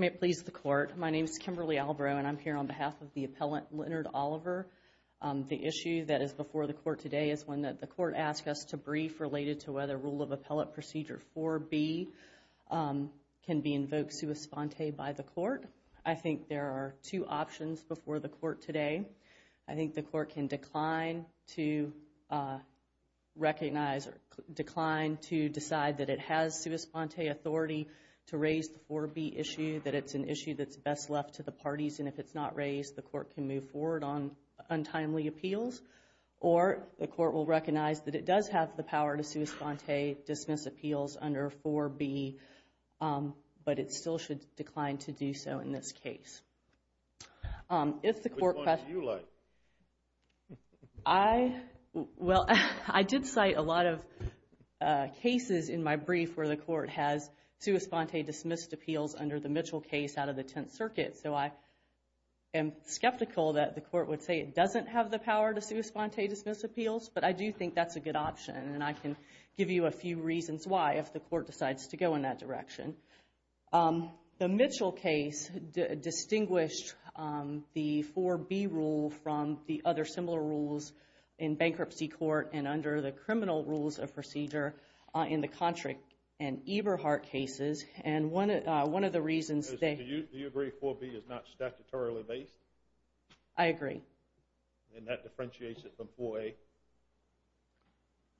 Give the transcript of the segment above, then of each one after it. May it please the court. My name is Kimberly Albrow and I'm here on behalf of the appellant Leonard Oliver. The issue that is before the court today is one that the court asked us to brief related to whether rule of appellate procedure 4b can be invoked sua sponte by the court. I think there are two options before the court today. I think the court can decline to recognize or decline to decide that it has sua sponte authority to raise the 4b issue that it's an issue that's best left to the parties and if it's not raised the court can move forward on untimely appeals or the court will recognize that it does have the power to sua sponte dismiss appeals under 4b but it still should decline to in my brief where the court has sua sponte dismissed appeals under the Mitchell case out of the Tenth Circuit so I am skeptical that the court would say it doesn't have the power to sua sponte dismiss appeals but I do think that's a good option and I can give you a few reasons why if the court decides to go in that direction. The Mitchell case distinguished the 4b rule from the other similar rules in bankruptcy court and under the criminal rules of Contrick and Eberhardt cases and one of the reasons they... Do you agree 4b is not statutorily based? I agree. And that differentiates it from 4a?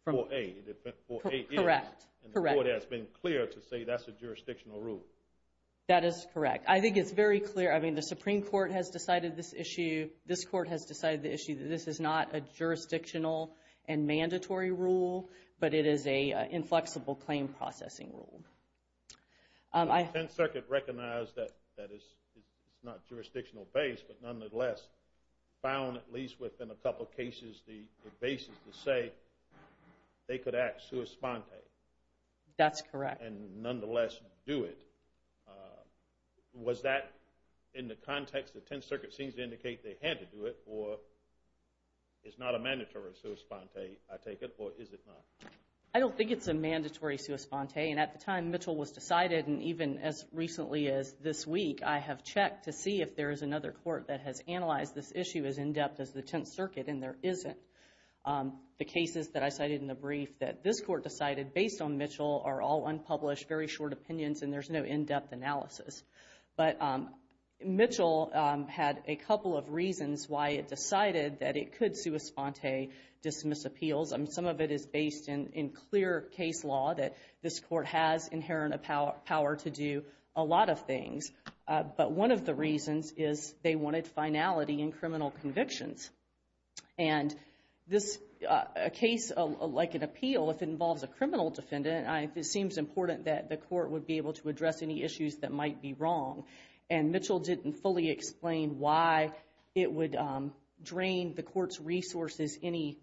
Correct. And the court has been clear to say that's a jurisdictional rule? That is correct. I think it's very clear I mean the Supreme Court has decided this issue this court has decided the issue that this is not a jurisdictional and mandatory rule but it is a inflexible claim processing rule. The Tenth Circuit recognized that that is it's not jurisdictional based but nonetheless found at least within a couple cases the basis to say they could act sua sponte. That's correct. And nonetheless do it. Was that in the context the Tenth Circuit seems to indicate they had to do it or it's not a mandatory sua sponte I take it or is it not? I don't think it's a mandatory sua sponte and at the time Mitchell was decided and even as recently as this week I have checked to see if there is another court that has analyzed this issue as in-depth as the Tenth Circuit and there isn't. The cases that I cited in the brief that this court decided based on Mitchell are all unpublished very short opinions and there's no in-depth analysis but Mitchell had a couple of reasons why it decided that it is based in clear case law that this court has inherent a power to do a lot of things but one of the reasons is they wanted finality in criminal convictions and this a case like an appeal if it involves a criminal defendant it seems important that the court would be able to address any issues that might be wrong and Mitchell didn't fully explain why it would drain the court's resources any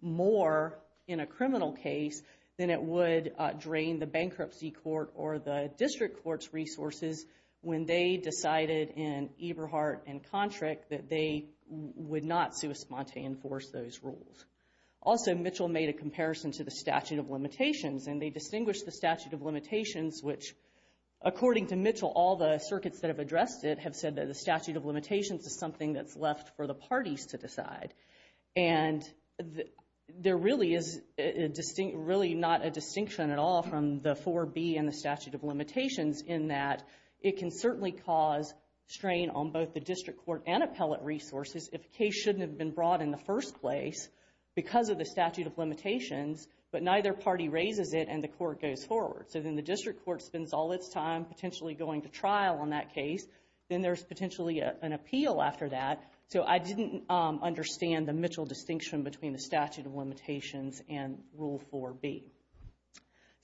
more in a criminal case than it would drain the bankruptcy court or the district courts resources when they decided in Eberhardt and Kontrick that they would not sua sponte enforce those rules. Also Mitchell made a comparison to the statute of limitations and they distinguished the statute of limitations which according to Mitchell all the circuits that have addressed it have said that the statute of limitations is left for the parties to decide and there really is a distinct really not a distinction at all from the 4B and the statute of limitations in that it can certainly cause strain on both the district court and appellate resources if a case shouldn't have been brought in the first place because of the statute of limitations but neither party raises it and the court goes forward so then the district court spends all its time potentially going to trial on that case then there's potentially an appeal after that so I didn't understand the Mitchell distinction between the statute of limitations and rule 4B.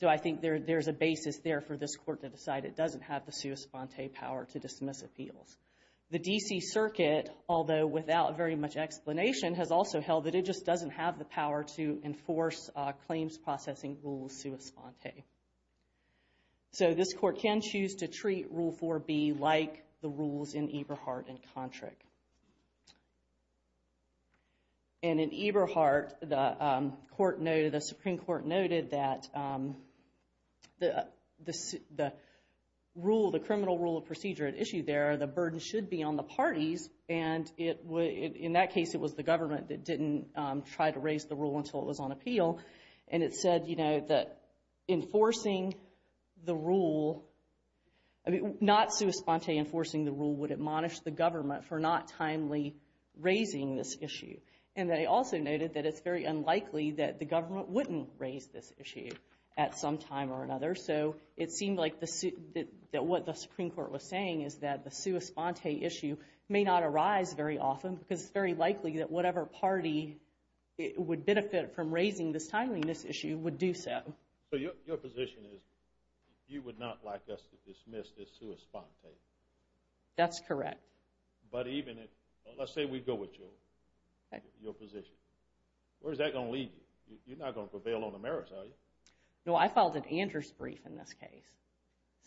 So I think there's a basis there for this court to decide it doesn't have the sua sponte power to dismiss appeals. The DC Circuit although without very much explanation has also held that it just doesn't have the power to enforce claims processing rules sua sponte. So this court can choose to treat rule 4B like the rules in Eberhardt and Kontrick. And in Eberhardt the court noted the Supreme Court noted that the the rule the criminal rule of procedure at issue there the burden should be on the parties and it would in that case it was the government that didn't try to raise the rule until it was on appeal and it enforcing the rule would admonish the government for not timely raising this issue and they also noted that it's very unlikely that the government wouldn't raise this issue at some time or another so it seemed like the suit that what the Supreme Court was saying is that the sua sponte issue may not arise very often because it's very likely that whatever party it would benefit from raising this timeliness issue would do so. So your position is you would not like us to dismiss this sua sponte? That's correct. But even if let's say we go with you your position where is that gonna lead you? You're not gonna prevail on the merits are you? No I filed an Andrews brief in this case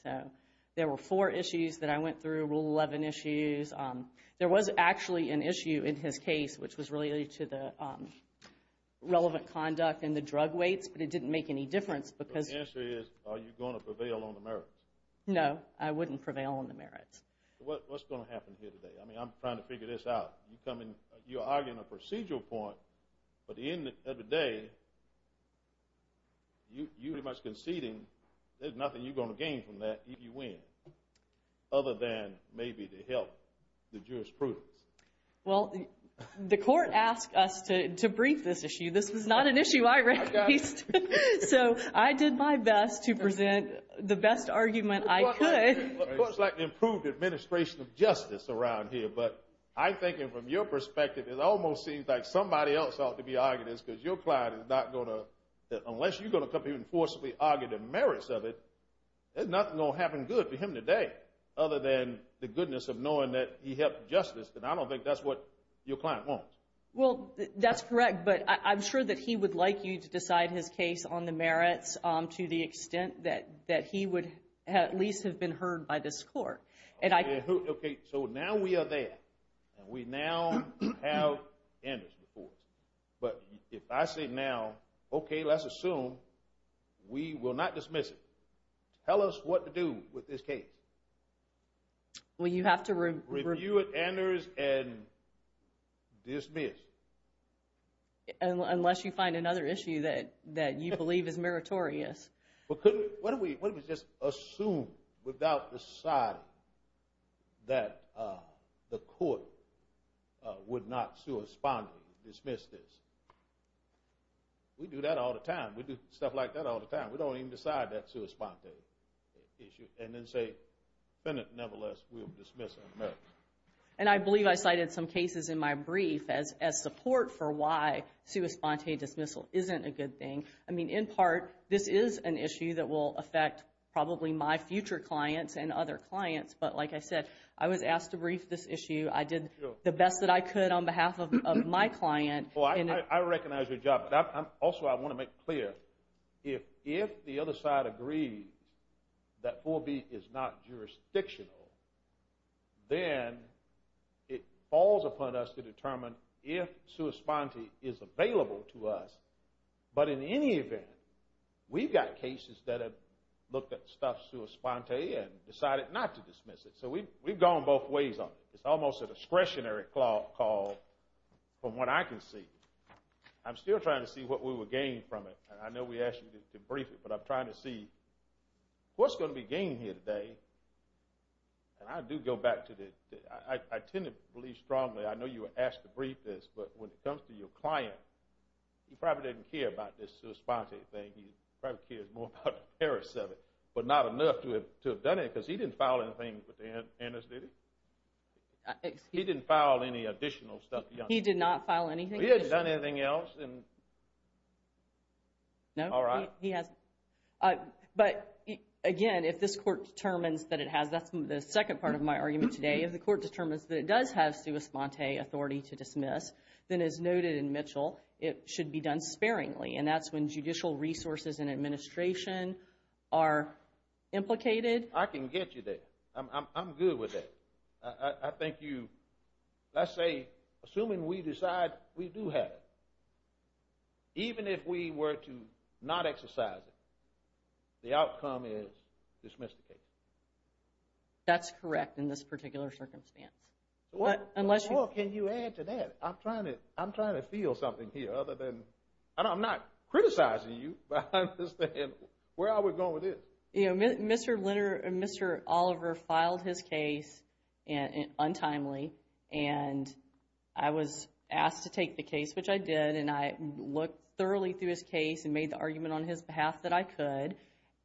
so there were four issues that I went through rule 11 issues there was actually an issue in his case which was related to the relevant conduct and the drug weights but it didn't make any difference because the answer is are you going to prevail on the merits? No I wouldn't prevail on the merits. What's going to happen here today I mean I'm trying to figure this out you come in you're arguing a procedural point but the end of the day you pretty much conceding there's nothing you're going to gain from that if you win other than maybe to help the jurisprudence. Well the court asked us to brief this issue this is not an issue I raised so I did my best to present the best argument I could. It's like improved administration of justice around here but I think it from your perspective it almost seems like somebody else ought to be arguing this because your client is not gonna unless you're gonna come in forcefully argue the merits of it there's nothing gonna happen good to him today other than the goodness of knowing that he helped justice and I don't think that's what your client wants. Well that's correct but I'm sure that he would like you to decide his case on the merits to the extent that that he would at least have been heard by this court. Okay so now we are there and we now have Anders but if I say now okay let's assume we will not dismiss it tell us what to do with this case. Well you have to review it Anders and dismiss. Unless you find another issue that that you believe is meritorious. Well couldn't what do we just assume without deciding that the court would not sui sponte dismiss this. We do that all the time we do stuff like that all the time we don't even decide that sui sponte issue and then say Bennett nevertheless will dismiss it. And I believe I cited some cases in my brief as as support for why sui sponte dismissal isn't a good thing I mean in part this is an issue that will affect probably my future clients and other clients but like I said I was asked to brief this issue I did the best that I could on behalf of my client. Well I recognize your job also I want to make clear if if the other side agrees that 4b is not jurisdictional then it falls upon us to determine if sui sponte is available to us but in any event we've got cases that have looked at stuff sui sponte and decided not to dismiss it so we we've gone both ways on it it's almost a discretionary call from what I can see. I'm still trying to see what we were gained from it I know we asked you to brief it but I'm trying to see what's going to be gained here today and I do go back to the I tend to believe strongly I know you were asked to brief this but when it comes to your client he probably didn't care about this sui sponte thing he probably cares more about the Paris of it but not enough to have done it because he didn't file anything with the anesthetic. He didn't file any additional stuff. He did not file anything. He hasn't done anything else? No he hasn't but again if this court determines that it has that's the second part of my argument today if the court determines that it does have sui sponte authority to dismiss then as noted in Mitchell it should be done sparingly and that's when judicial resources and administration are implicated. I can get you there I'm good with it I think you let's say assuming we decide we do have it even if we were to not exercise it the outcome is dismissed. That's correct in this particular circumstance. What can you add to that I'm trying to I'm trying to feel something here other than and I'm not criticizing you but where are we with this? You know Mr. Litter and Mr. Oliver filed his case and untimely and I was asked to take the case which I did and I looked thoroughly through his case and made the argument on his behalf that I could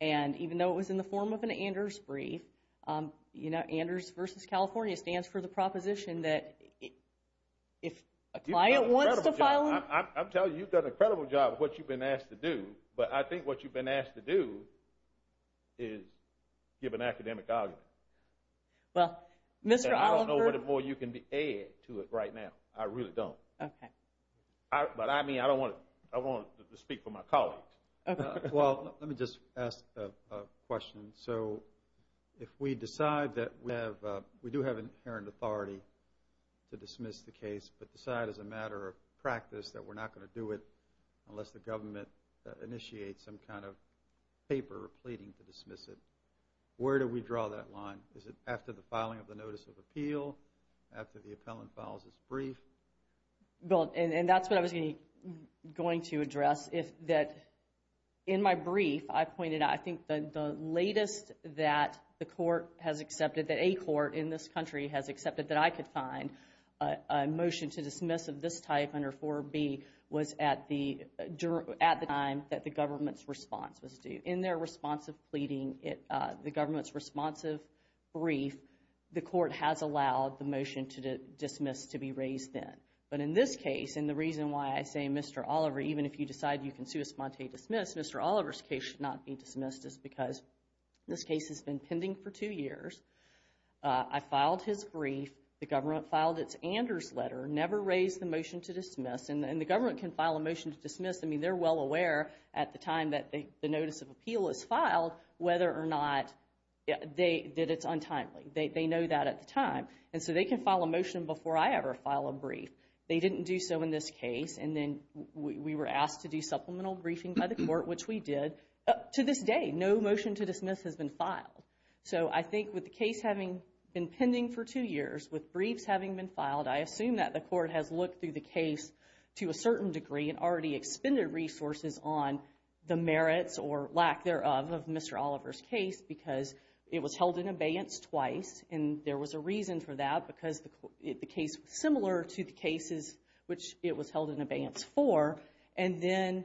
and even though it was in the form of an Anders brief you know Anders versus California stands for the proposition that if a client wants to file. I'm telling you you've done an incredible job what you've been asked to do but I think what you've been asked to do is give an academic argument. Well Mr. Oliver. I don't know what more you can add to it right now I really don't. Okay. But I mean I don't want to I wanted to speak for my colleagues. Well let me just ask a question so if we decide that we have we do have an inherent authority to dismiss the case but decide as a matter of course the government initiates some kind of paper or pleading to dismiss it where do we draw that line? Is it after the filing of the notice of appeal? After the appellant files his brief? Well and that's what I was going to address if that in my brief I pointed out I think the latest that the court has accepted that a court in this country has accepted that I could find a motion to dismiss of this type under 4B was at the at the time that the government's response was due. In their response of pleading it the government's responsive brief the court has allowed the motion to dismiss to be raised then but in this case and the reason why I say Mr. Oliver even if you decide you can sui sponte dismiss Mr. Oliver's case should not be dismissed is because this case has been pending for two years. I filed his brief the government filed its Anders letter never raised the motion to dismiss and the government can file a motion to dismiss I mean they're well aware at the time that the notice of appeal is filed whether or not they did it's untimely they know that at the time and so they can file a motion before I ever file a brief they didn't do so in this case and then we were asked to do supplemental briefing by the court which we did up to this day no motion to dismiss has been filed so I think with the case having been pending for two years with briefs having been filed I think the court has looked through the case to a certain degree and already expended resources on the merits or lack thereof of Mr. Oliver's case because it was held in abeyance twice and there was a reason for that because the case similar to the cases which it was held in abeyance for and then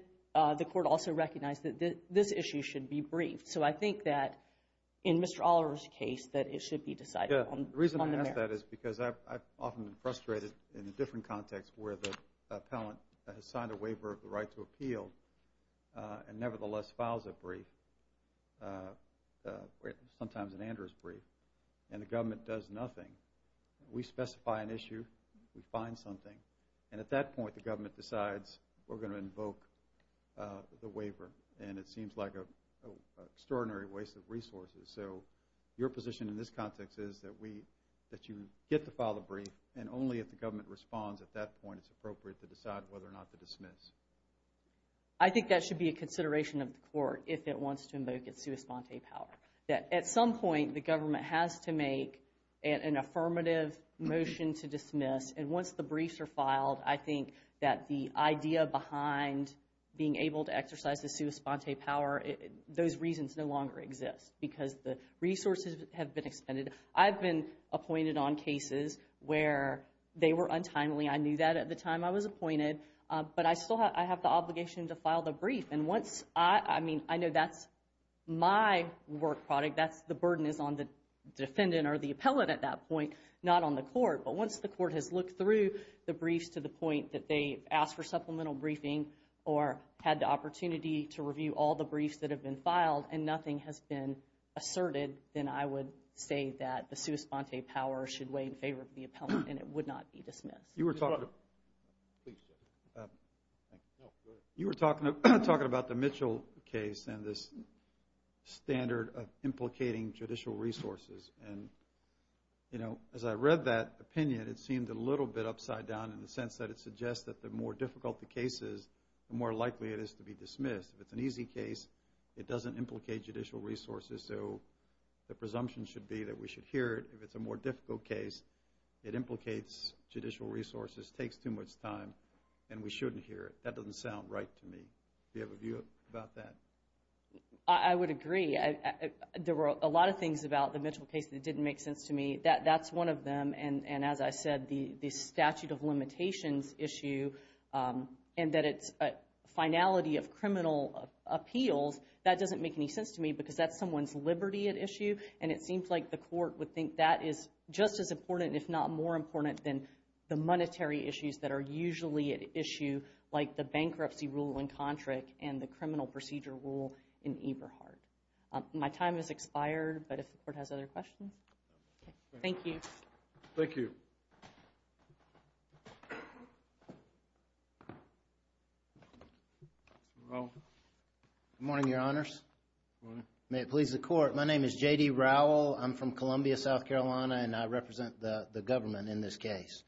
the court also recognized that this issue should be briefed so I think that in Mr. Oliver's case that it should be decided on. The reason I ask that is because I've often frustrated in a different context where the appellant has signed a waiver of the right to appeal and nevertheless files a brief sometimes an Andrews brief and the government does nothing we specify an issue we find something and at that point the government decides we're going to invoke the waiver and it seems like a extraordinary waste of resources so your position in this context is that we that only if the government responds at that point it's appropriate to decide whether or not to dismiss. I think that should be a consideration of the court if it wants to invoke its sua sponte power that at some point the government has to make an affirmative motion to dismiss and once the briefs are filed I think that the idea behind being able to exercise the sua sponte power those reasons no longer exist because the resources have been expended. I've been appointed on cases where they were untimely I knew that at the time I was appointed but I still have I have the obligation to file the brief and once I mean I know that's my work product that's the burden is on the defendant or the appellant at that point not on the court but once the court has looked through the briefs to the point that they asked for supplemental briefing or had the opportunity to review all the briefs that have been filed and nothing has been asserted then I would say that the sua sponte power should weigh in favor of the appellant and it would not be dismissed. You were talking about the Mitchell case and this standard of implicating judicial resources and you know as I read that opinion it seemed a little bit upside down in the sense that it suggests that the more difficult the cases the more likely it is to be dismissed if it's an implicate judicial resources so the presumption should be that we should hear it if it's a more difficult case it implicates judicial resources takes too much time and we shouldn't hear it that doesn't sound right to me. Do you have a view about that? I would agree there were a lot of things about the Mitchell case that didn't make sense to me that that's one of them and and as I said the the statute of limitations issue and that it's a finality of criminal appeals that doesn't make any sense to me because that's someone's liberty at issue and it seems like the court would think that is just as important if not more important than the monetary issues that are usually at issue like the bankruptcy rule in Contract and the criminal procedure rule in Eberhardt. My time is expired but if the court has other questions. Thank you. Thank you. Good morning, your honors. May it please the court. My name is JD Rowell. I'm from Columbia, South Carolina and I represent the government in this case.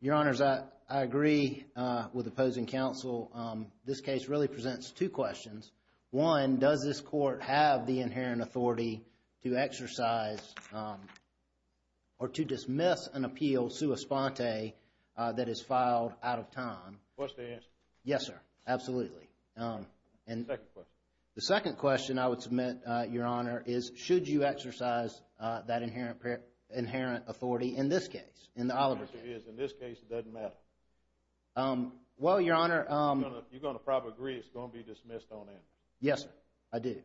Your honors, I agree with opposing counsel. This case really presents two questions. One, does this court have the inherent authority to exercise or to dismiss an ante that is filed out of time? What's the answer? Yes, sir. Absolutely. The second question I would submit, your honor, is should you exercise that inherent authority in this case? In this case, it doesn't matter. Well, your honor. You're going to probably agree it's going to be dismissed on it. Yes, I do.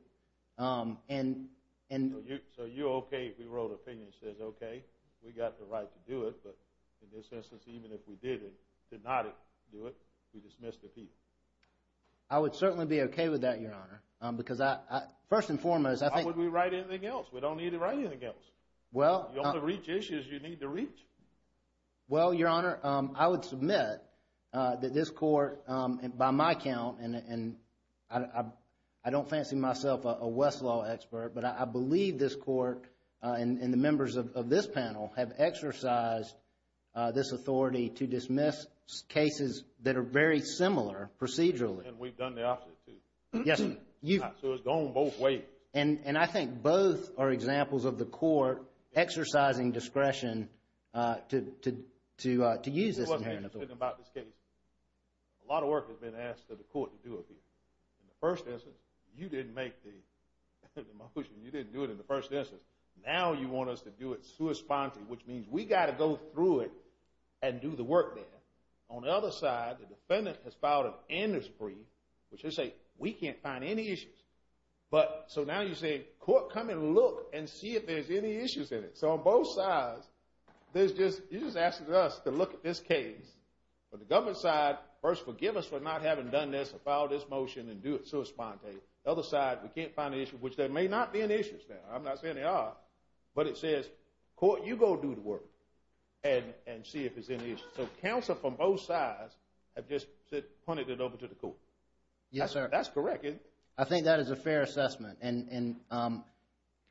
So you're okay if we wrote an opinion that says, okay, we got the right to do it but in this instance, even if we did it, did not do it, we dismissed the people. I would certainly be okay with that, your honor, because I first and foremost, I think. Why would we write anything else? We don't need to write anything else. Well, you only reach issues you need to reach. Well, your honor, I would submit that this court and by my account, and I don't fancy myself a Westlaw expert, but I believe this court and the members of this panel have exercised this authority to dismiss cases that are very similar procedurally. And we've done the opposite, too. Yes, sir. So it's gone both ways. And I think both are examples of the court exercising discretion to use this inherent authority. It wasn't just about this case. A lot of work has been asked of the court to do it. In the first instance, now you want us to do it sui sponte, which means we got to go through it and do the work there. On the other side, the defendant has filed an indiscretion, which is to say we can't find any issues. But so now you're saying, court, come and look and see if there's any issues in it. So on both sides, you're just asking us to look at this case. But the government side, first, forgive us for not having done this or filed this motion and do it sui sponte. The other side, we can't find issues, which there may not be any issues there. I'm not saying there are. But it says, court, you go do the work and see if there's any issues. So counsel from both sides have just pointed it over to the court. Yes, sir. That's correct, isn't it? I think that is a fair assessment. And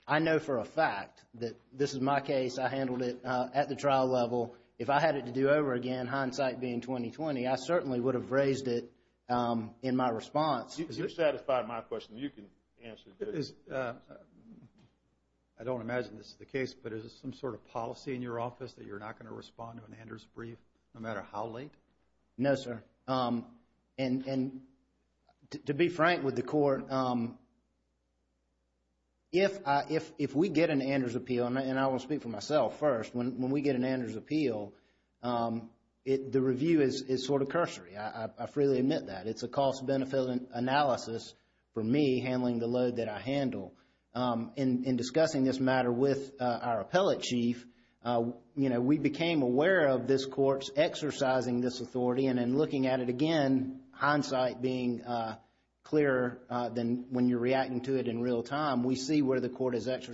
I know for a fact that this is my case. I handled it at the trial level. If I had it to do over again, hindsight being 20-20, I certainly would have raised it in my response. You've satisfied my question. You can answer it. I don't imagine this is the case, but is there some sort of policy in your office that you're not going to respond to an Anders brief no matter how late? No, sir. And to be frank with the court, if we get an Anders appeal, and I will speak for myself first, when we get an Anders appeal, the review is sort of cursory. I freely admit that. It's a cost-benefit analysis for me handling the load that I handle. In discussing this matter with our appellate chief, we became aware of this court's exercising this authority. And in looking at it again, hindsight being clearer than when you're reacting to it in real time, we see where the court has gone. If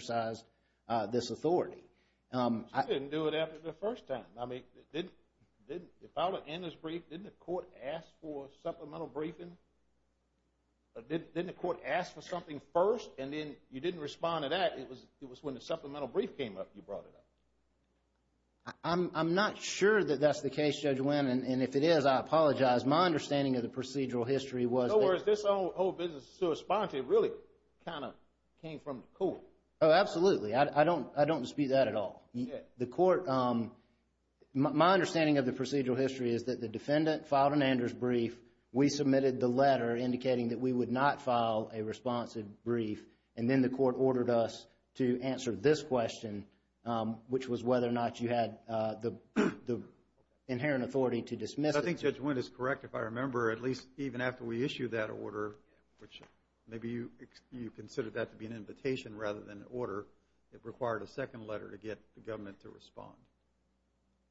I were to end this brief, didn't the court ask for a supplemental briefing? Didn't the court ask for something first, and then you didn't respond to that? It was when the supplemental brief came up, you brought it up. I'm not sure that that's the case, Judge Winn. And if it is, I apologize. My understanding of the procedural history was that... In other words, this whole business to respond to really kind of came from the court. Oh, absolutely. I don't dispute that at all. The court... My understanding of the procedural history is that the defendant filed an Anders brief, we submitted the letter indicating that we would not file a responsive brief, and then the court ordered us to answer this question, which was whether or not you had the inherent authority to dismiss it. I think Judge Winn is correct, if I remember, at least even after we issued that order, which maybe you considered that to be an invitation rather than an order, it required a second letter to get the government to respond.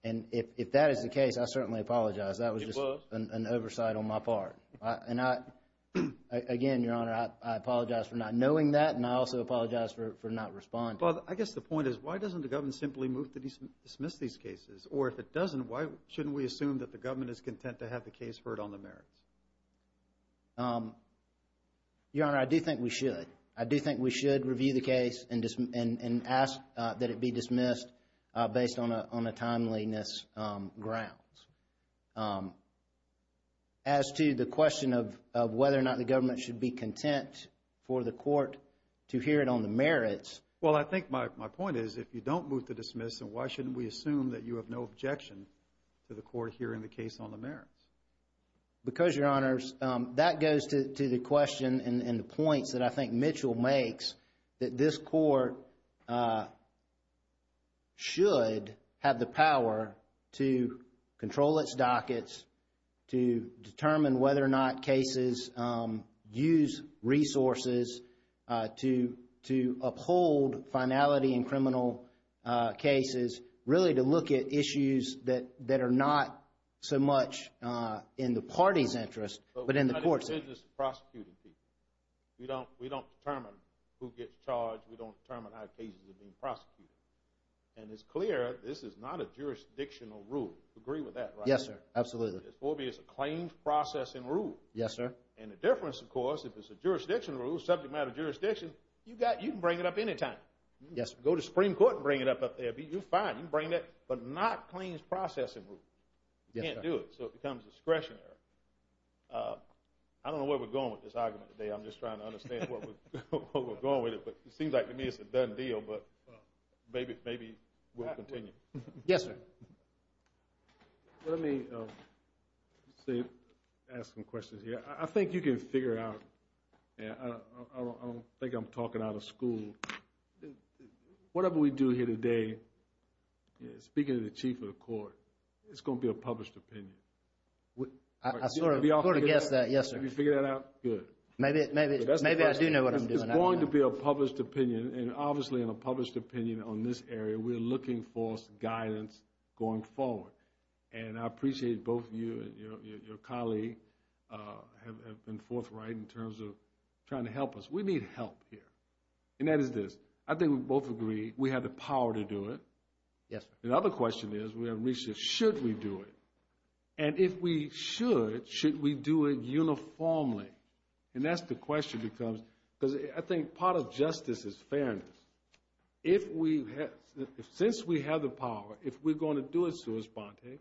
And if that is the case, I certainly apologize. That was just an oversight on my part. Again, Your Honor, I apologize for not knowing that, and I also apologize for not responding. I guess the point is, why doesn't the government simply move to dismiss these cases? Or if it doesn't, why shouldn't we assume that the government is content to have the case heard on the merits? Your Honor, I do think we should. I do think we should review the case and ask that it be dismissed based on a timeliness grounds. As to the question of whether or not the government should be content for the court to hear it on the merits... Well, I think my point is, if you don't move to dismiss, then why shouldn't we assume that you have no objection to the court hearing the case on the merits? Because, Your Honors, that goes to the question and the points that I think Mitchell makes, that this court should have the power to control its dockets, to determine whether or not cases use resources to uphold finality in criminal cases, really to look at issues that are not so much in the party's interest, but in the court's interest. But we're not in the business of prosecuting people. We don't determine who gets charged. We don't determine how cases are being prosecuted. And it's clear, this is not a jurisdictional rule. Agree with that, right? Yes, sir. Absolutely. It's a claims processing rule. Yes, sir. And the difference, of course, if it's a jurisdictional rule, subject matter jurisdiction, you can bring it up any time. Yes, sir. Go to Supreme Court and bring it up up there. You're fine. You can bring that. But not claims processing rule. Yes, sir. You can't do it. So it becomes discretionary. I don't know where we're going with this argument today. I'm just trying to understand what we're going with it. But it seems like to me it's a done deal. But maybe we'll continue. Yes, sir. Well, let me say, ask some questions here. I think you can figure out. I don't think I'm talking out of school. Whatever we do here today, speaking to the Chief of the Court, it's going to be a published opinion. I sort of guessed that. Yes, sir. Have you figured that out? Good. Maybe I do know what I'm doing. It's going to be a published opinion. And obviously, in a published opinion on this area, we're looking for guidance going forward. And I appreciate both of you and your colleague have been forthright in terms of trying to help us. We need help here. And that is this. I think we both agree we have the power to do it. Yes, sir. The other question is, we haven't reached the, should we do it? And if we should, should we do it uniformly? And that's the question because I think part of justice is fairness. If we have, since we have the power, if we're going to do it sua sponte,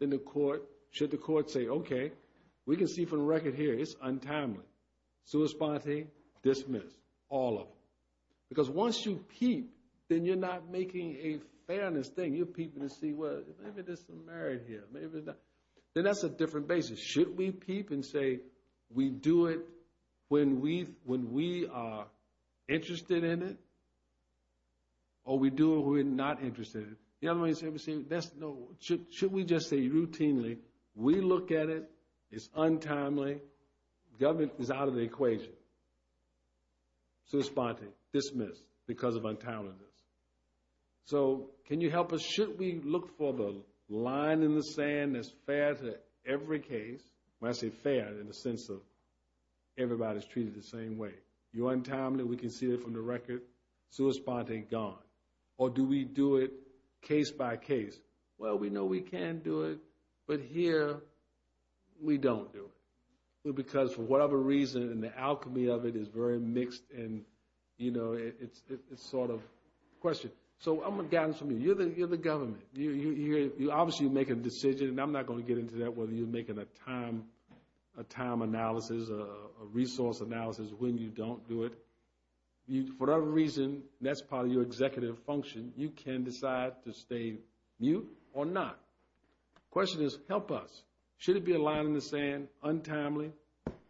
then the court, should the court say, okay, we can see from the record here, it's untimely. Sua sponte, dismiss. All of them. Because once you peep, then you're not making a fairness thing. You're peeping to see, well, maybe there's some merit here. Maybe not. Then that's a different basis. Should we peep and say, we do it when we are interested in it? Or we do it when we're not interested in it? The other way of saying it, should we just say routinely, we look at it, it's untimely. Government is out of the equation. Sua sponte, dismiss because of untimeliness. So, can you help us? Should we look for the line in the sand that's fair to every case? When I say fair, in the sense of everybody's treated the same way. You're untimely, we can see it from the record. Sua sponte, gone. Or do we do it case by case? Well, we know we can do it, but here, we don't do it. Because for whatever reason, and the alchemy of it is very mixed, and it's sort of a question. So, I'm going to guidance from you. You're the government. You obviously make a decision, and I'm not going to get into that, whether you're making a time analysis, a resource analysis, when you don't do it. For whatever reason, that's part of your executive function. You can decide to stay mute or not. The question is, help us. Should it be a line in the sand, untimely?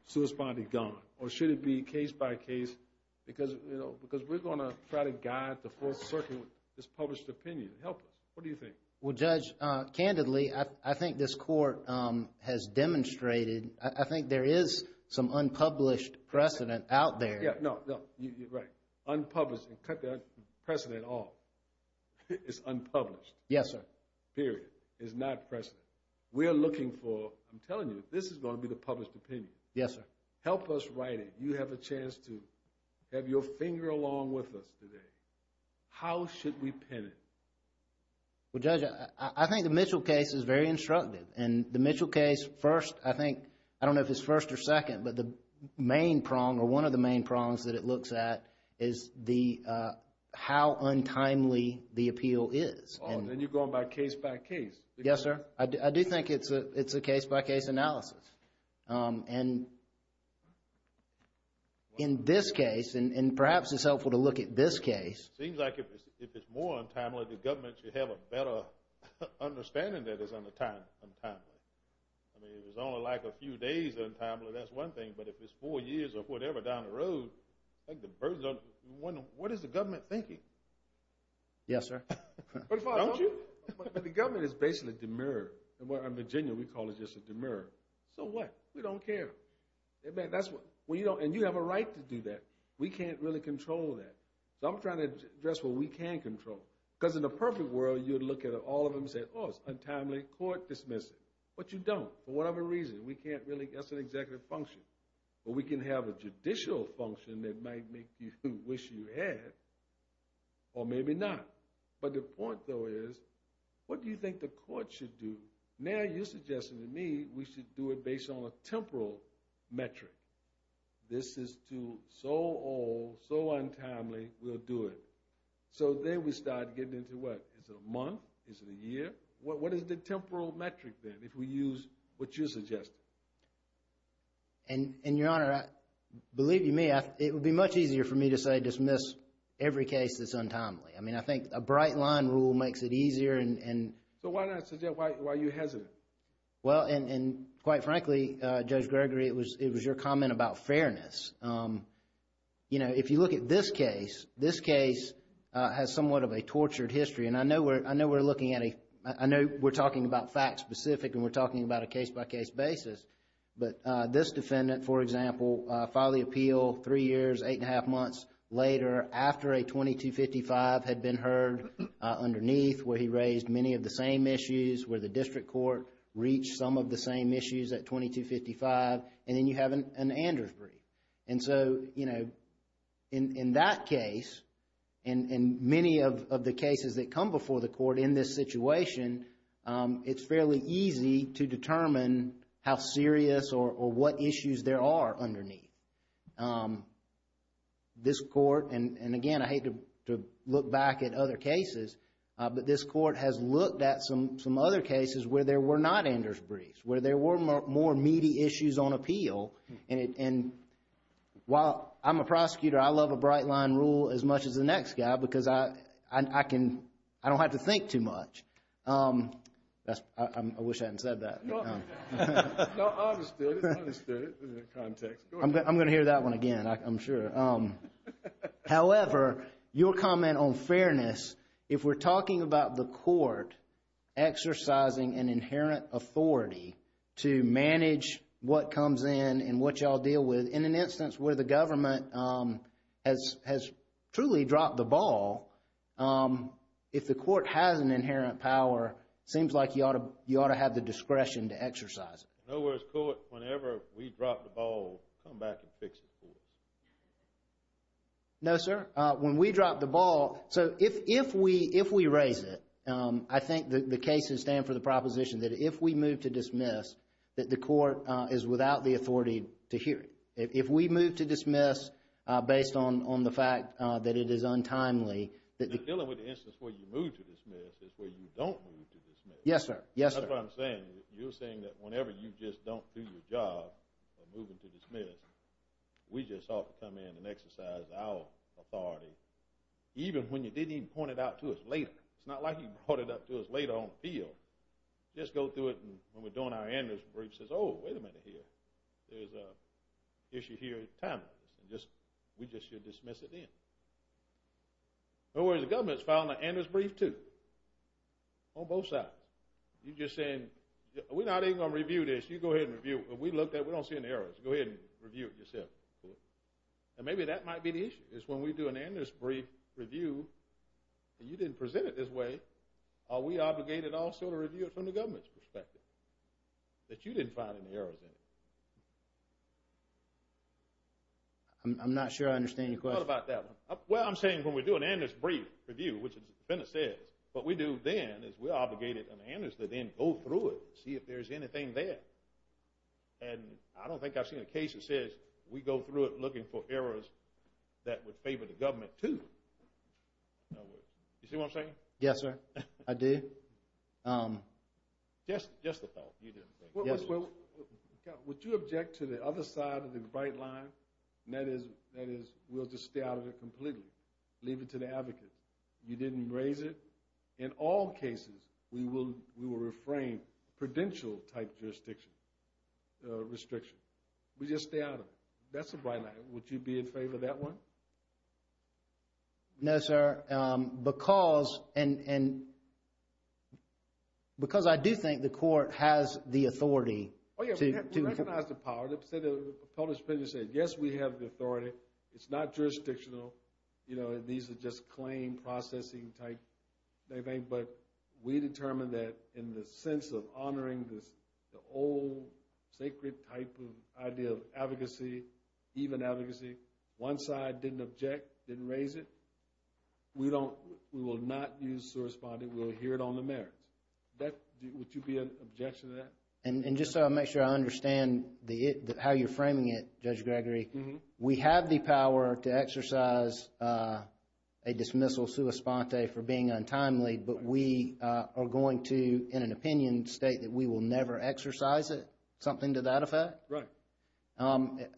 Sua sponte, gone. Or should it be case by case? Because we're going to try to guide the fourth circuit with this published opinion. Help us. What do you think? Well, Judge, candidly, I think this court has demonstrated, I think there is some unpublished precedent out there. Yeah, no, no, you're right. Unpublished, and cut that precedent off. It's unpublished. Yes, sir. Period. It's not precedent. We're looking for, I'm telling you, this is going to be the published opinion. Yes, sir. Help us write it. You have a chance to have your finger along with us today. How should we pin it? Well, Judge, I think the Mitchell case is very instructive. The Mitchell case, first, I think, I don't know if it's first or second, but the main prong, or one of the main prongs that it looks at, is how untimely the appeal is. Oh, then you're going by case by case. Yes, sir. I do think it's a case by case analysis. In this case, and perhaps it's helpful to look at this case. It seems like if it's more untimely, the government should have a better understanding that it's untimely. I mean, if it's only like a few days untimely, that's one thing, but if it's four years or whatever down the road, what is the government thinking? Yes, sir. Don't you? But the government is basically demur. In Virginia, we call it just a demur. So what? We don't care. And you have a right to do that. We can't really control that. So I'm trying to address what we can control. Because in a perfect world, you'd look at all of them and say, oh, it's untimely, court dismiss it. But you don't. For whatever reason, we can't really. That's an executive function. But we can have a judicial function that might make you wish you had, or maybe not. But the point, though, is what do you think the court should do? Now you're suggesting to me we should do it based on a temporal metric. This is too so old, so untimely, we'll do it. So then we start getting into what? Is it a month? Is it a year? What is the temporal metric then if we use what you're suggesting? And, Your Honor, believe you me, it would be much easier for me to say dismiss every case that's untimely. I mean, I think a bright line rule makes it easier. So why not suggest? Why are you hesitant? Well, and quite frankly, Judge Gregory, it was your comment about fairness. You know, if you look at this case, this case has somewhat of a tortured history. And I know we're talking about facts specific and we're talking about a case-by-case basis. But this defendant, for example, filed the appeal three years, eight and a half months later, after a 2255 had been heard underneath, where he raised many of the same issues, where the district court reached some of the same issues at 2255, and then you have an Andrews brief. And so, you know, in that case, and many of the cases that come before the court in this situation, it's fairly easy to determine how serious or what issues there are underneath. This court, and again, I hate to look back at other cases, but this court has looked at some other cases where there were not Andrews briefs, where there were more meaty issues on appeal. And while I'm a prosecutor, I love a bright line rule as much as the next guy because I don't have to think too much. I wish I hadn't said that. No, I understood it. I understood it in the context. I'm going to hear that one again, I'm sure. However, your comment on fairness, if we're talking about the court exercising an inherent authority to manage what comes in and what y'all deal with, in an instance where the government has truly dropped the ball, if the court has an inherent power, it seems like you ought to have the discretion to exercise it. Nowhere is court, whenever we drop the ball, come back and fix it for us. No, sir. When we drop the ball, so if we raise it, I think the cases stand for the proposition that if we move to dismiss, that the court is without the authority to hear it. If we move to dismiss, based on the fact that it is untimely. Dealing with the instance where you move to dismiss is where you don't move to dismiss. Yes, sir. Yes, sir. That's what I'm saying. You're saying that whenever you just don't do your job of moving to dismiss, we just ought to come in and exercise our authority, even when you didn't even point it out to us later. It's not like you brought it up to us later on appeal. Just go through it and when we're doing our analyst brief, says, oh, wait a minute here. There's an issue here at time. We just should dismiss it then. No worries, the government's filing an analyst brief too. On both sides. You're just saying, we're not even going to review this. You go ahead and review it. We looked at it. We don't see any errors. Go ahead and review it yourself. And maybe that might be the issue, is when we do an analyst brief review and you didn't present it this way, are we obligated also to review it from the government's perspective, that you didn't find any errors in it? I'm not sure I understand your question. What about that one? Well, I'm saying when we do an analyst brief review, which the defendant says, what we do then is we're obligated an analyst to then go through it, see if there's anything there. And I don't think I've seen a case that says we go through it looking for errors that would favor the government too. No worries. You see what I'm saying? Yes, sir. I do. Just the thought. Would you object to the other side of the bright line? And that is, we'll just stay out of it completely. Leave it to the advocate. You didn't raise it. In all cases, we will reframe prudential type jurisdiction. Restriction. We just stay out of it. That's the bright line. Would you be in favor of that? No, sir. Because I do think the court has the authority to- Oh, yeah. We recognize the power. The published opinion said, yes, we have the authority. It's not jurisdictional. These are just claim processing type. But we determined that in the sense of honoring the old sacred type of idea of advocacy, even advocacy, one side didn't object, didn't raise it. We will not use sua sponte. We'll adhere it on the merits. Would you be in objection to that? And just so I make sure I understand how you're framing it, Judge Gregory, we have the power to exercise a dismissal sua sponte for being untimely. But we are going to, in an opinion, state that we will never exercise it. Something to that effect? Right.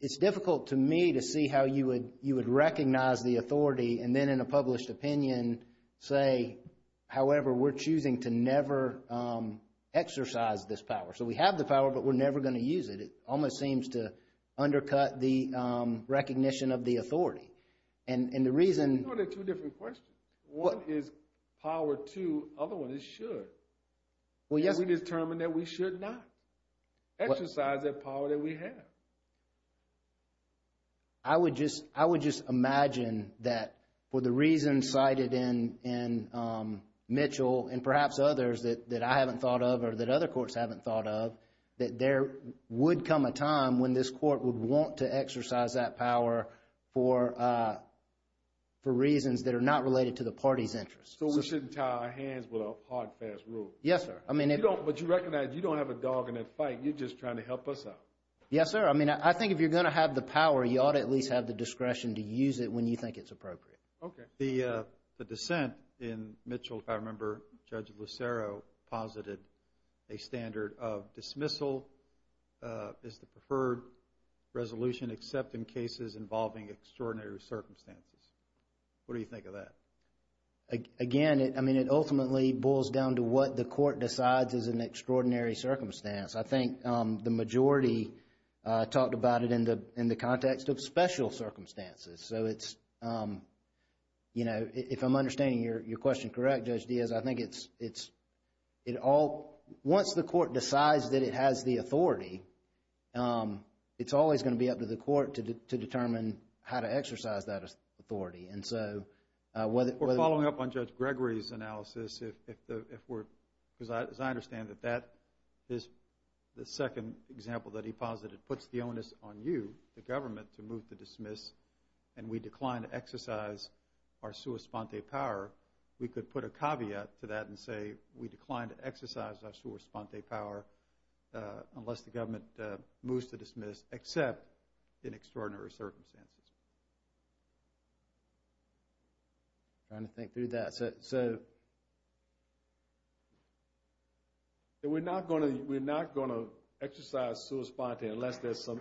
It's difficult to me to see how you would recognize the authority, and then in a published opinion say, however, we're choosing to never exercise this power. So we have the power, but we're never going to use it. It almost seems to undercut the recognition of the authority. And the reason- Well, they're two different questions. One is power to, other one is should. We determined that we should not exercise that power that we have. I would just imagine that for the reasons cited in Mitchell and perhaps others that I haven't thought of or that other courts haven't thought of, that there would come a time when this court would want to exercise that power for reasons that are not related to the party's interests. So we shouldn't tie our hands with a hard, fast rule? Yes, sir. I mean- But you recognize you don't have a dog in that fight. You're just trying to help us out. Yes, sir. I mean, I think if you're going to have the power, you ought to at least have the discretion to use it when you think it's appropriate. Okay. The dissent in Mitchell, if I remember, Judge Lucero posited a standard of dismissal as the preferred resolution except in cases involving extraordinary circumstances. What do you think of that? Again, I mean, it ultimately boils down to what the court decides is an extraordinary circumstance. I think the majority talked about it in the context of special circumstances. So it's, you know, if I'm correct, Judge Diaz, I think it's, it all, once the court decides that it has the authority, it's always going to be up to the court to determine how to exercise that authority. And so, whether- We're following up on Judge Gregory's analysis if the, if we're, because as I understand that that is the second example that he posited puts the onus on you, the government, to move to dismiss and we decline to exercise our sua sponte power, we could put a caveat to that and say we decline to exercise our sua sponte power unless the government moves to dismiss except in extraordinary circumstances. I'm trying to think through that. So, we're not going to, we're not going to exercise sua sponte unless there's some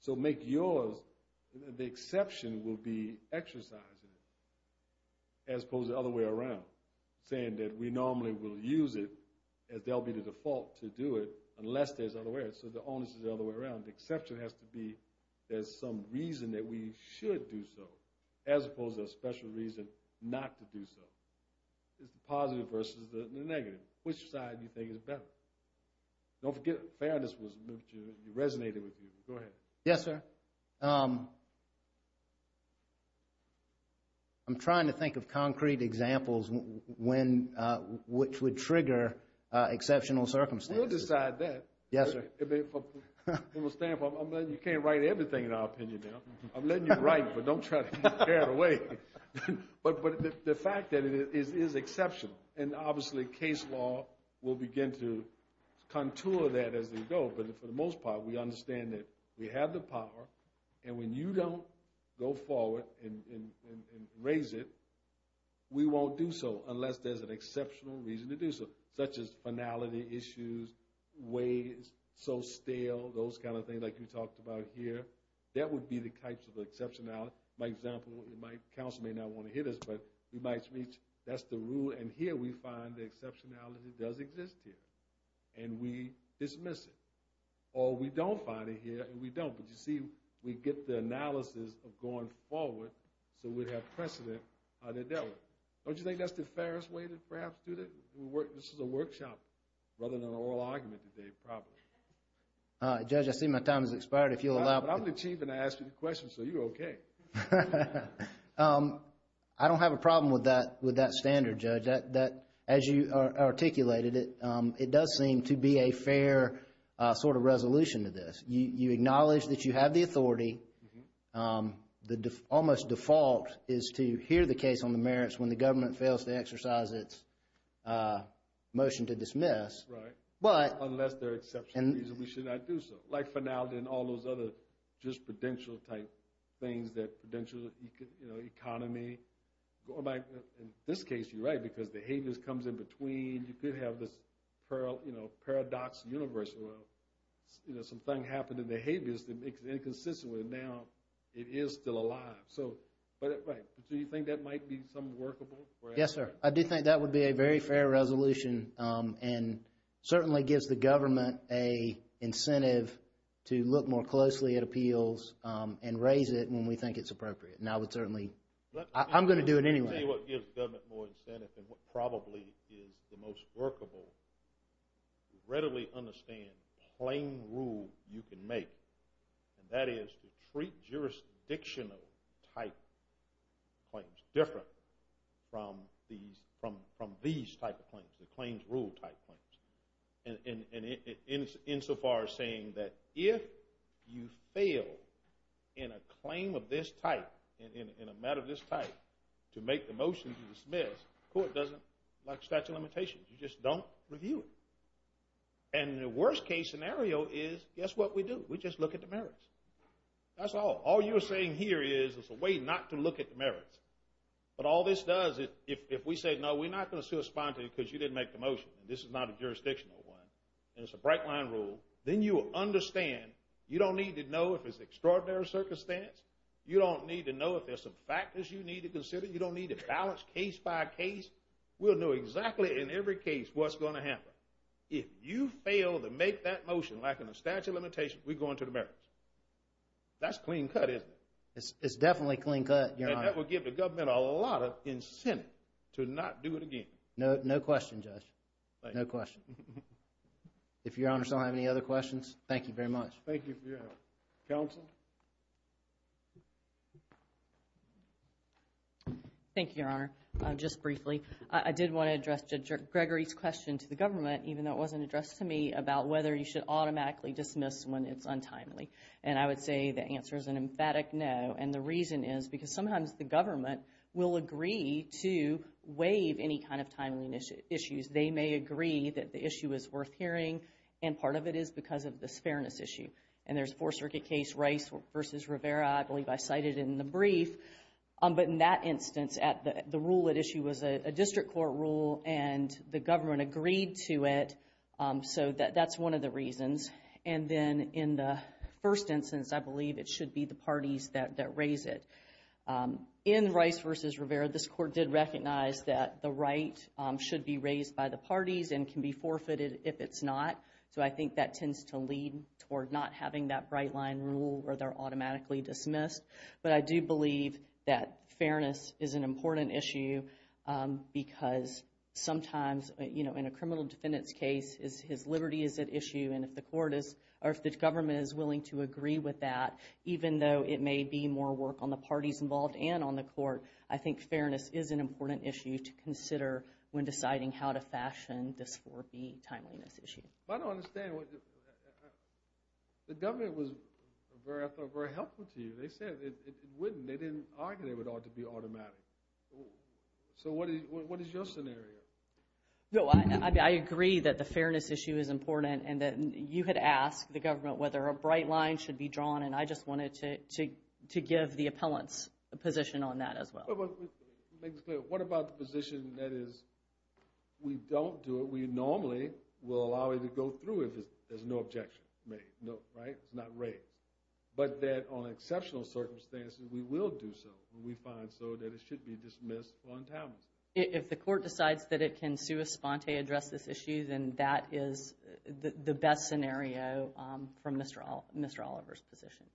so make yours, the exception will be exercising it as opposed to the other way around, saying that we normally will use it as they'll be the default to do it unless there's other ways. So the onus is the other way around. The exception has to be there's some reason that we should do so as opposed to a special reason not to do so. It's the positive versus the negative. Which side do you think is better? Don't forget fairness resonated with you. Go ahead. Yes, sir. I'm trying to think of concrete examples when, which would trigger exceptional circumstances. We'll decide that. Yes, sir. You can't write everything in our opinion now. I'm letting you write, but don't try to tear it away. But the fact that it is exceptional and obviously case law will begin to contour that as they go. But for the most part, we understand that we have the power. And when you don't go forward and raise it, we won't do so unless there's an exceptional reason to do so, such as finality issues, ways, so stale, those kind of things like you talked about here. That would be the types of exceptionality. My example, my counsel may not want to hit us, but we might reach that's the exceptionality does exist here and we dismiss it. Or we don't find it here and we don't, but you see, we get the analysis of going forward so we'd have precedent. Don't you think that's the fairest way to perhaps do this? This is a workshop rather than an oral argument today. Judge, I see my time has expired. I'm the chief and I asked you the question, so you're okay. Okay. I don't have a problem with that standard, Judge. As you articulated it, it does seem to be a fair sort of resolution to this. You acknowledge that you have the authority. The almost default is to hear the case on the merits when the government fails to exercise its motion to dismiss. Right. But... Unless there's an exceptional reason we should not do so. Like finality and all those other just prudential type things that prudential, you know, economy. In this case, you're right, because the habeas comes in between. You could have this, you know, paradox universal. You know, something happened in the habeas that makes it inconsistent with it. Now, it is still alive. So, but right. Do you think that might be some workable? Yes, sir. I do think that would be a very fair resolution and certainly gives the government an incentive to look more closely at appeals and raise it when we think it's appropriate. And I would certainly... I'm going to do it anyway. Let me tell you what gives the government more incentive and what probably is the most workable. To readily understand plain rule you can make. And that is to treat jurisdictional type claims different from these type of claims, the claims rule type claims. And insofar as saying that if you fail in a claim of this type, in a matter of this type, to make the motion to dismiss, court doesn't like statute of limitations. You just don't review it. And the worst case scenario is, guess what we do? We just look at the merits. That's all. All you're saying here is it's a way not to look at the merits. But all this does is if we say, no, we're not going to respond to it because you didn't make the motion, and this is not a jurisdictional one, and it's a bright line rule, then you will understand. You don't need to know if it's extraordinary circumstance. You don't need to know if there's some factors you need to consider. You don't need to balance case by case. We'll know exactly in every case what's going to happen. If you fail to make that motion, like in the statute of limitations, we go into the merits. That's clean cut, isn't it? It's definitely clean cut, Your Honor. And that would give the government a lot of incentive to not do it again. No, no question, Judge. No question. If Your Honor still have any other questions, thank you very much. Thank you for your help. Counsel? Thank you, Your Honor. Just briefly, I did want to address Judge Gregory's question to the government, even though it wasn't addressed to me, about whether you should automatically dismiss when it's untimely. And I would say the answer is an emphatic no. And the reason is because sometimes the government will agree to waive any kind of timely issues. They may agree that the issue is worth hearing, and part of it is because of this fairness issue. And there's a Fourth Circuit case, Rice v. Rivera. I believe I cited it in the brief. But in that instance, the rule at issue was a district court rule, and the government agreed to it. So that's one of the in the first instance, I believe it should be the parties that raise it. In Rice v. Rivera, this court did recognize that the right should be raised by the parties and can be forfeited if it's not. So I think that tends to lead toward not having that bright line rule where they're automatically dismissed. But I do believe that fairness is an important issue because sometimes, you know, in a criminal defendant's case, his liberty is at issue. And if the court is, or if the government is willing to agree with that, even though it may be more work on the parties involved and on the court, I think fairness is an important issue to consider when deciding how to fashion this 4B timeliness issue. I don't understand. The government was very, I thought, very helpful to you. They said it wouldn't. They didn't argue it ought to be automatic. So what is your scenario? No, I agree that the fairness issue is important and that you had asked the government whether a bright line should be drawn. And I just wanted to give the appellants a position on that as well. What about the position that is, we don't do it, we normally will allow it to go through if there's no objection made, right? It's not raised. But that on exceptional circumstances, we will do so. We find so that it should be dismissed on time. If the court decides that it can sui sponte address this issue, then that is the best scenario from Mr. Oliver's position.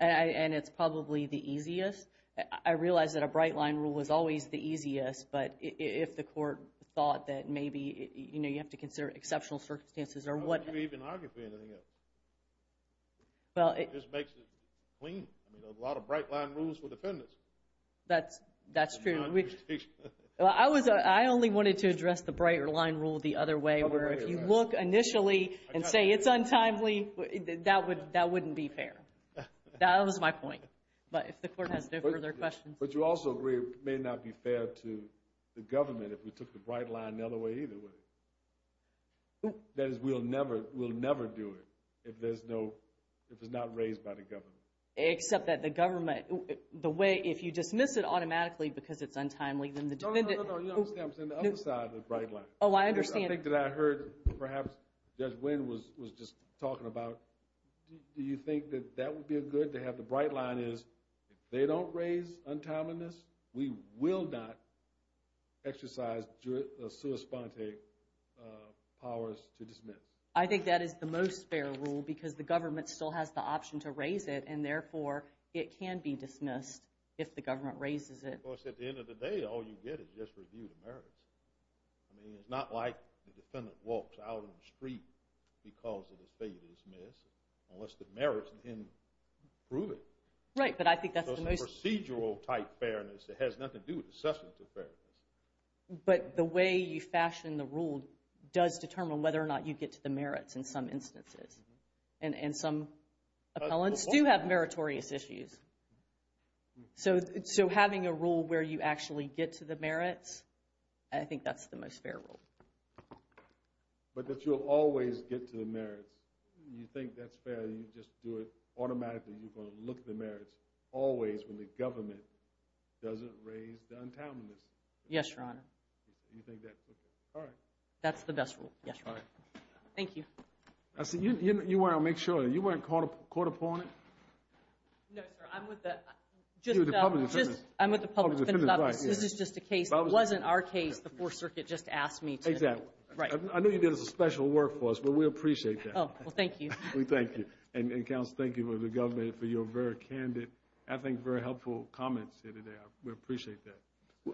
And it's probably the easiest. I realize that a bright line rule was always the easiest, but if the court thought that maybe, you know, you have to consider exceptional circumstances or you even argue for anything else. It just makes it clean. I mean, a lot of bright line rules for defendants. That's true. I only wanted to address the bright line rule the other way, where if you look initially and say it's untimely, that wouldn't be fair. That was my point. But if the court has no further questions. But you also agree it may not be fair to the government if we took the bright line the other way either. That is, we'll never, we'll never do it if there's no, if it's not raised by the government. Except that the government, the way, if you dismiss it automatically because it's untimely, then the defendant. No, no, no, you understand, I'm saying the other side of the bright line. Oh, I understand. I think that I heard perhaps Judge Wynn was just talking about, do you think that that would be a good to have the bright line is, if they don't raise untimeliness, we will not exercise sua sponte powers to dismiss. I think that is the most fair rule because the government still has the option to raise it and therefore it can be dismissed if the government raises it. Of course, at the end of the day, all you get is just review the merits. I mean, it's not like the defendant walks out on the street because of his failure to dismiss unless the merits in him prove it. Right, but I But the way you fashion the rule does determine whether or not you get to the merits in some instances. And some appellants do have meritorious issues. So, so having a rule where you actually get to the merits, I think that's the most fair rule. But that you'll always get to the merits. You think that's fair, you just do it automatically. You're going to look the merits always when the government doesn't raise the untimeliness. Yes, your honor. Do you think that's okay? All right. That's the best rule. Yes. Thank you. I see you want to make sure you weren't caught up, caught upon it. No, sir. I'm with the public. I'm with the public. This is just a case. It wasn't our case. The Fourth Circuit just asked me to. Exactly. Right. I know you did a special work for us, but we appreciate that. Well, thank you. We thank you. And counsel, thank you for the government for your very candid, I think very helpful comments here today. We appreciate that.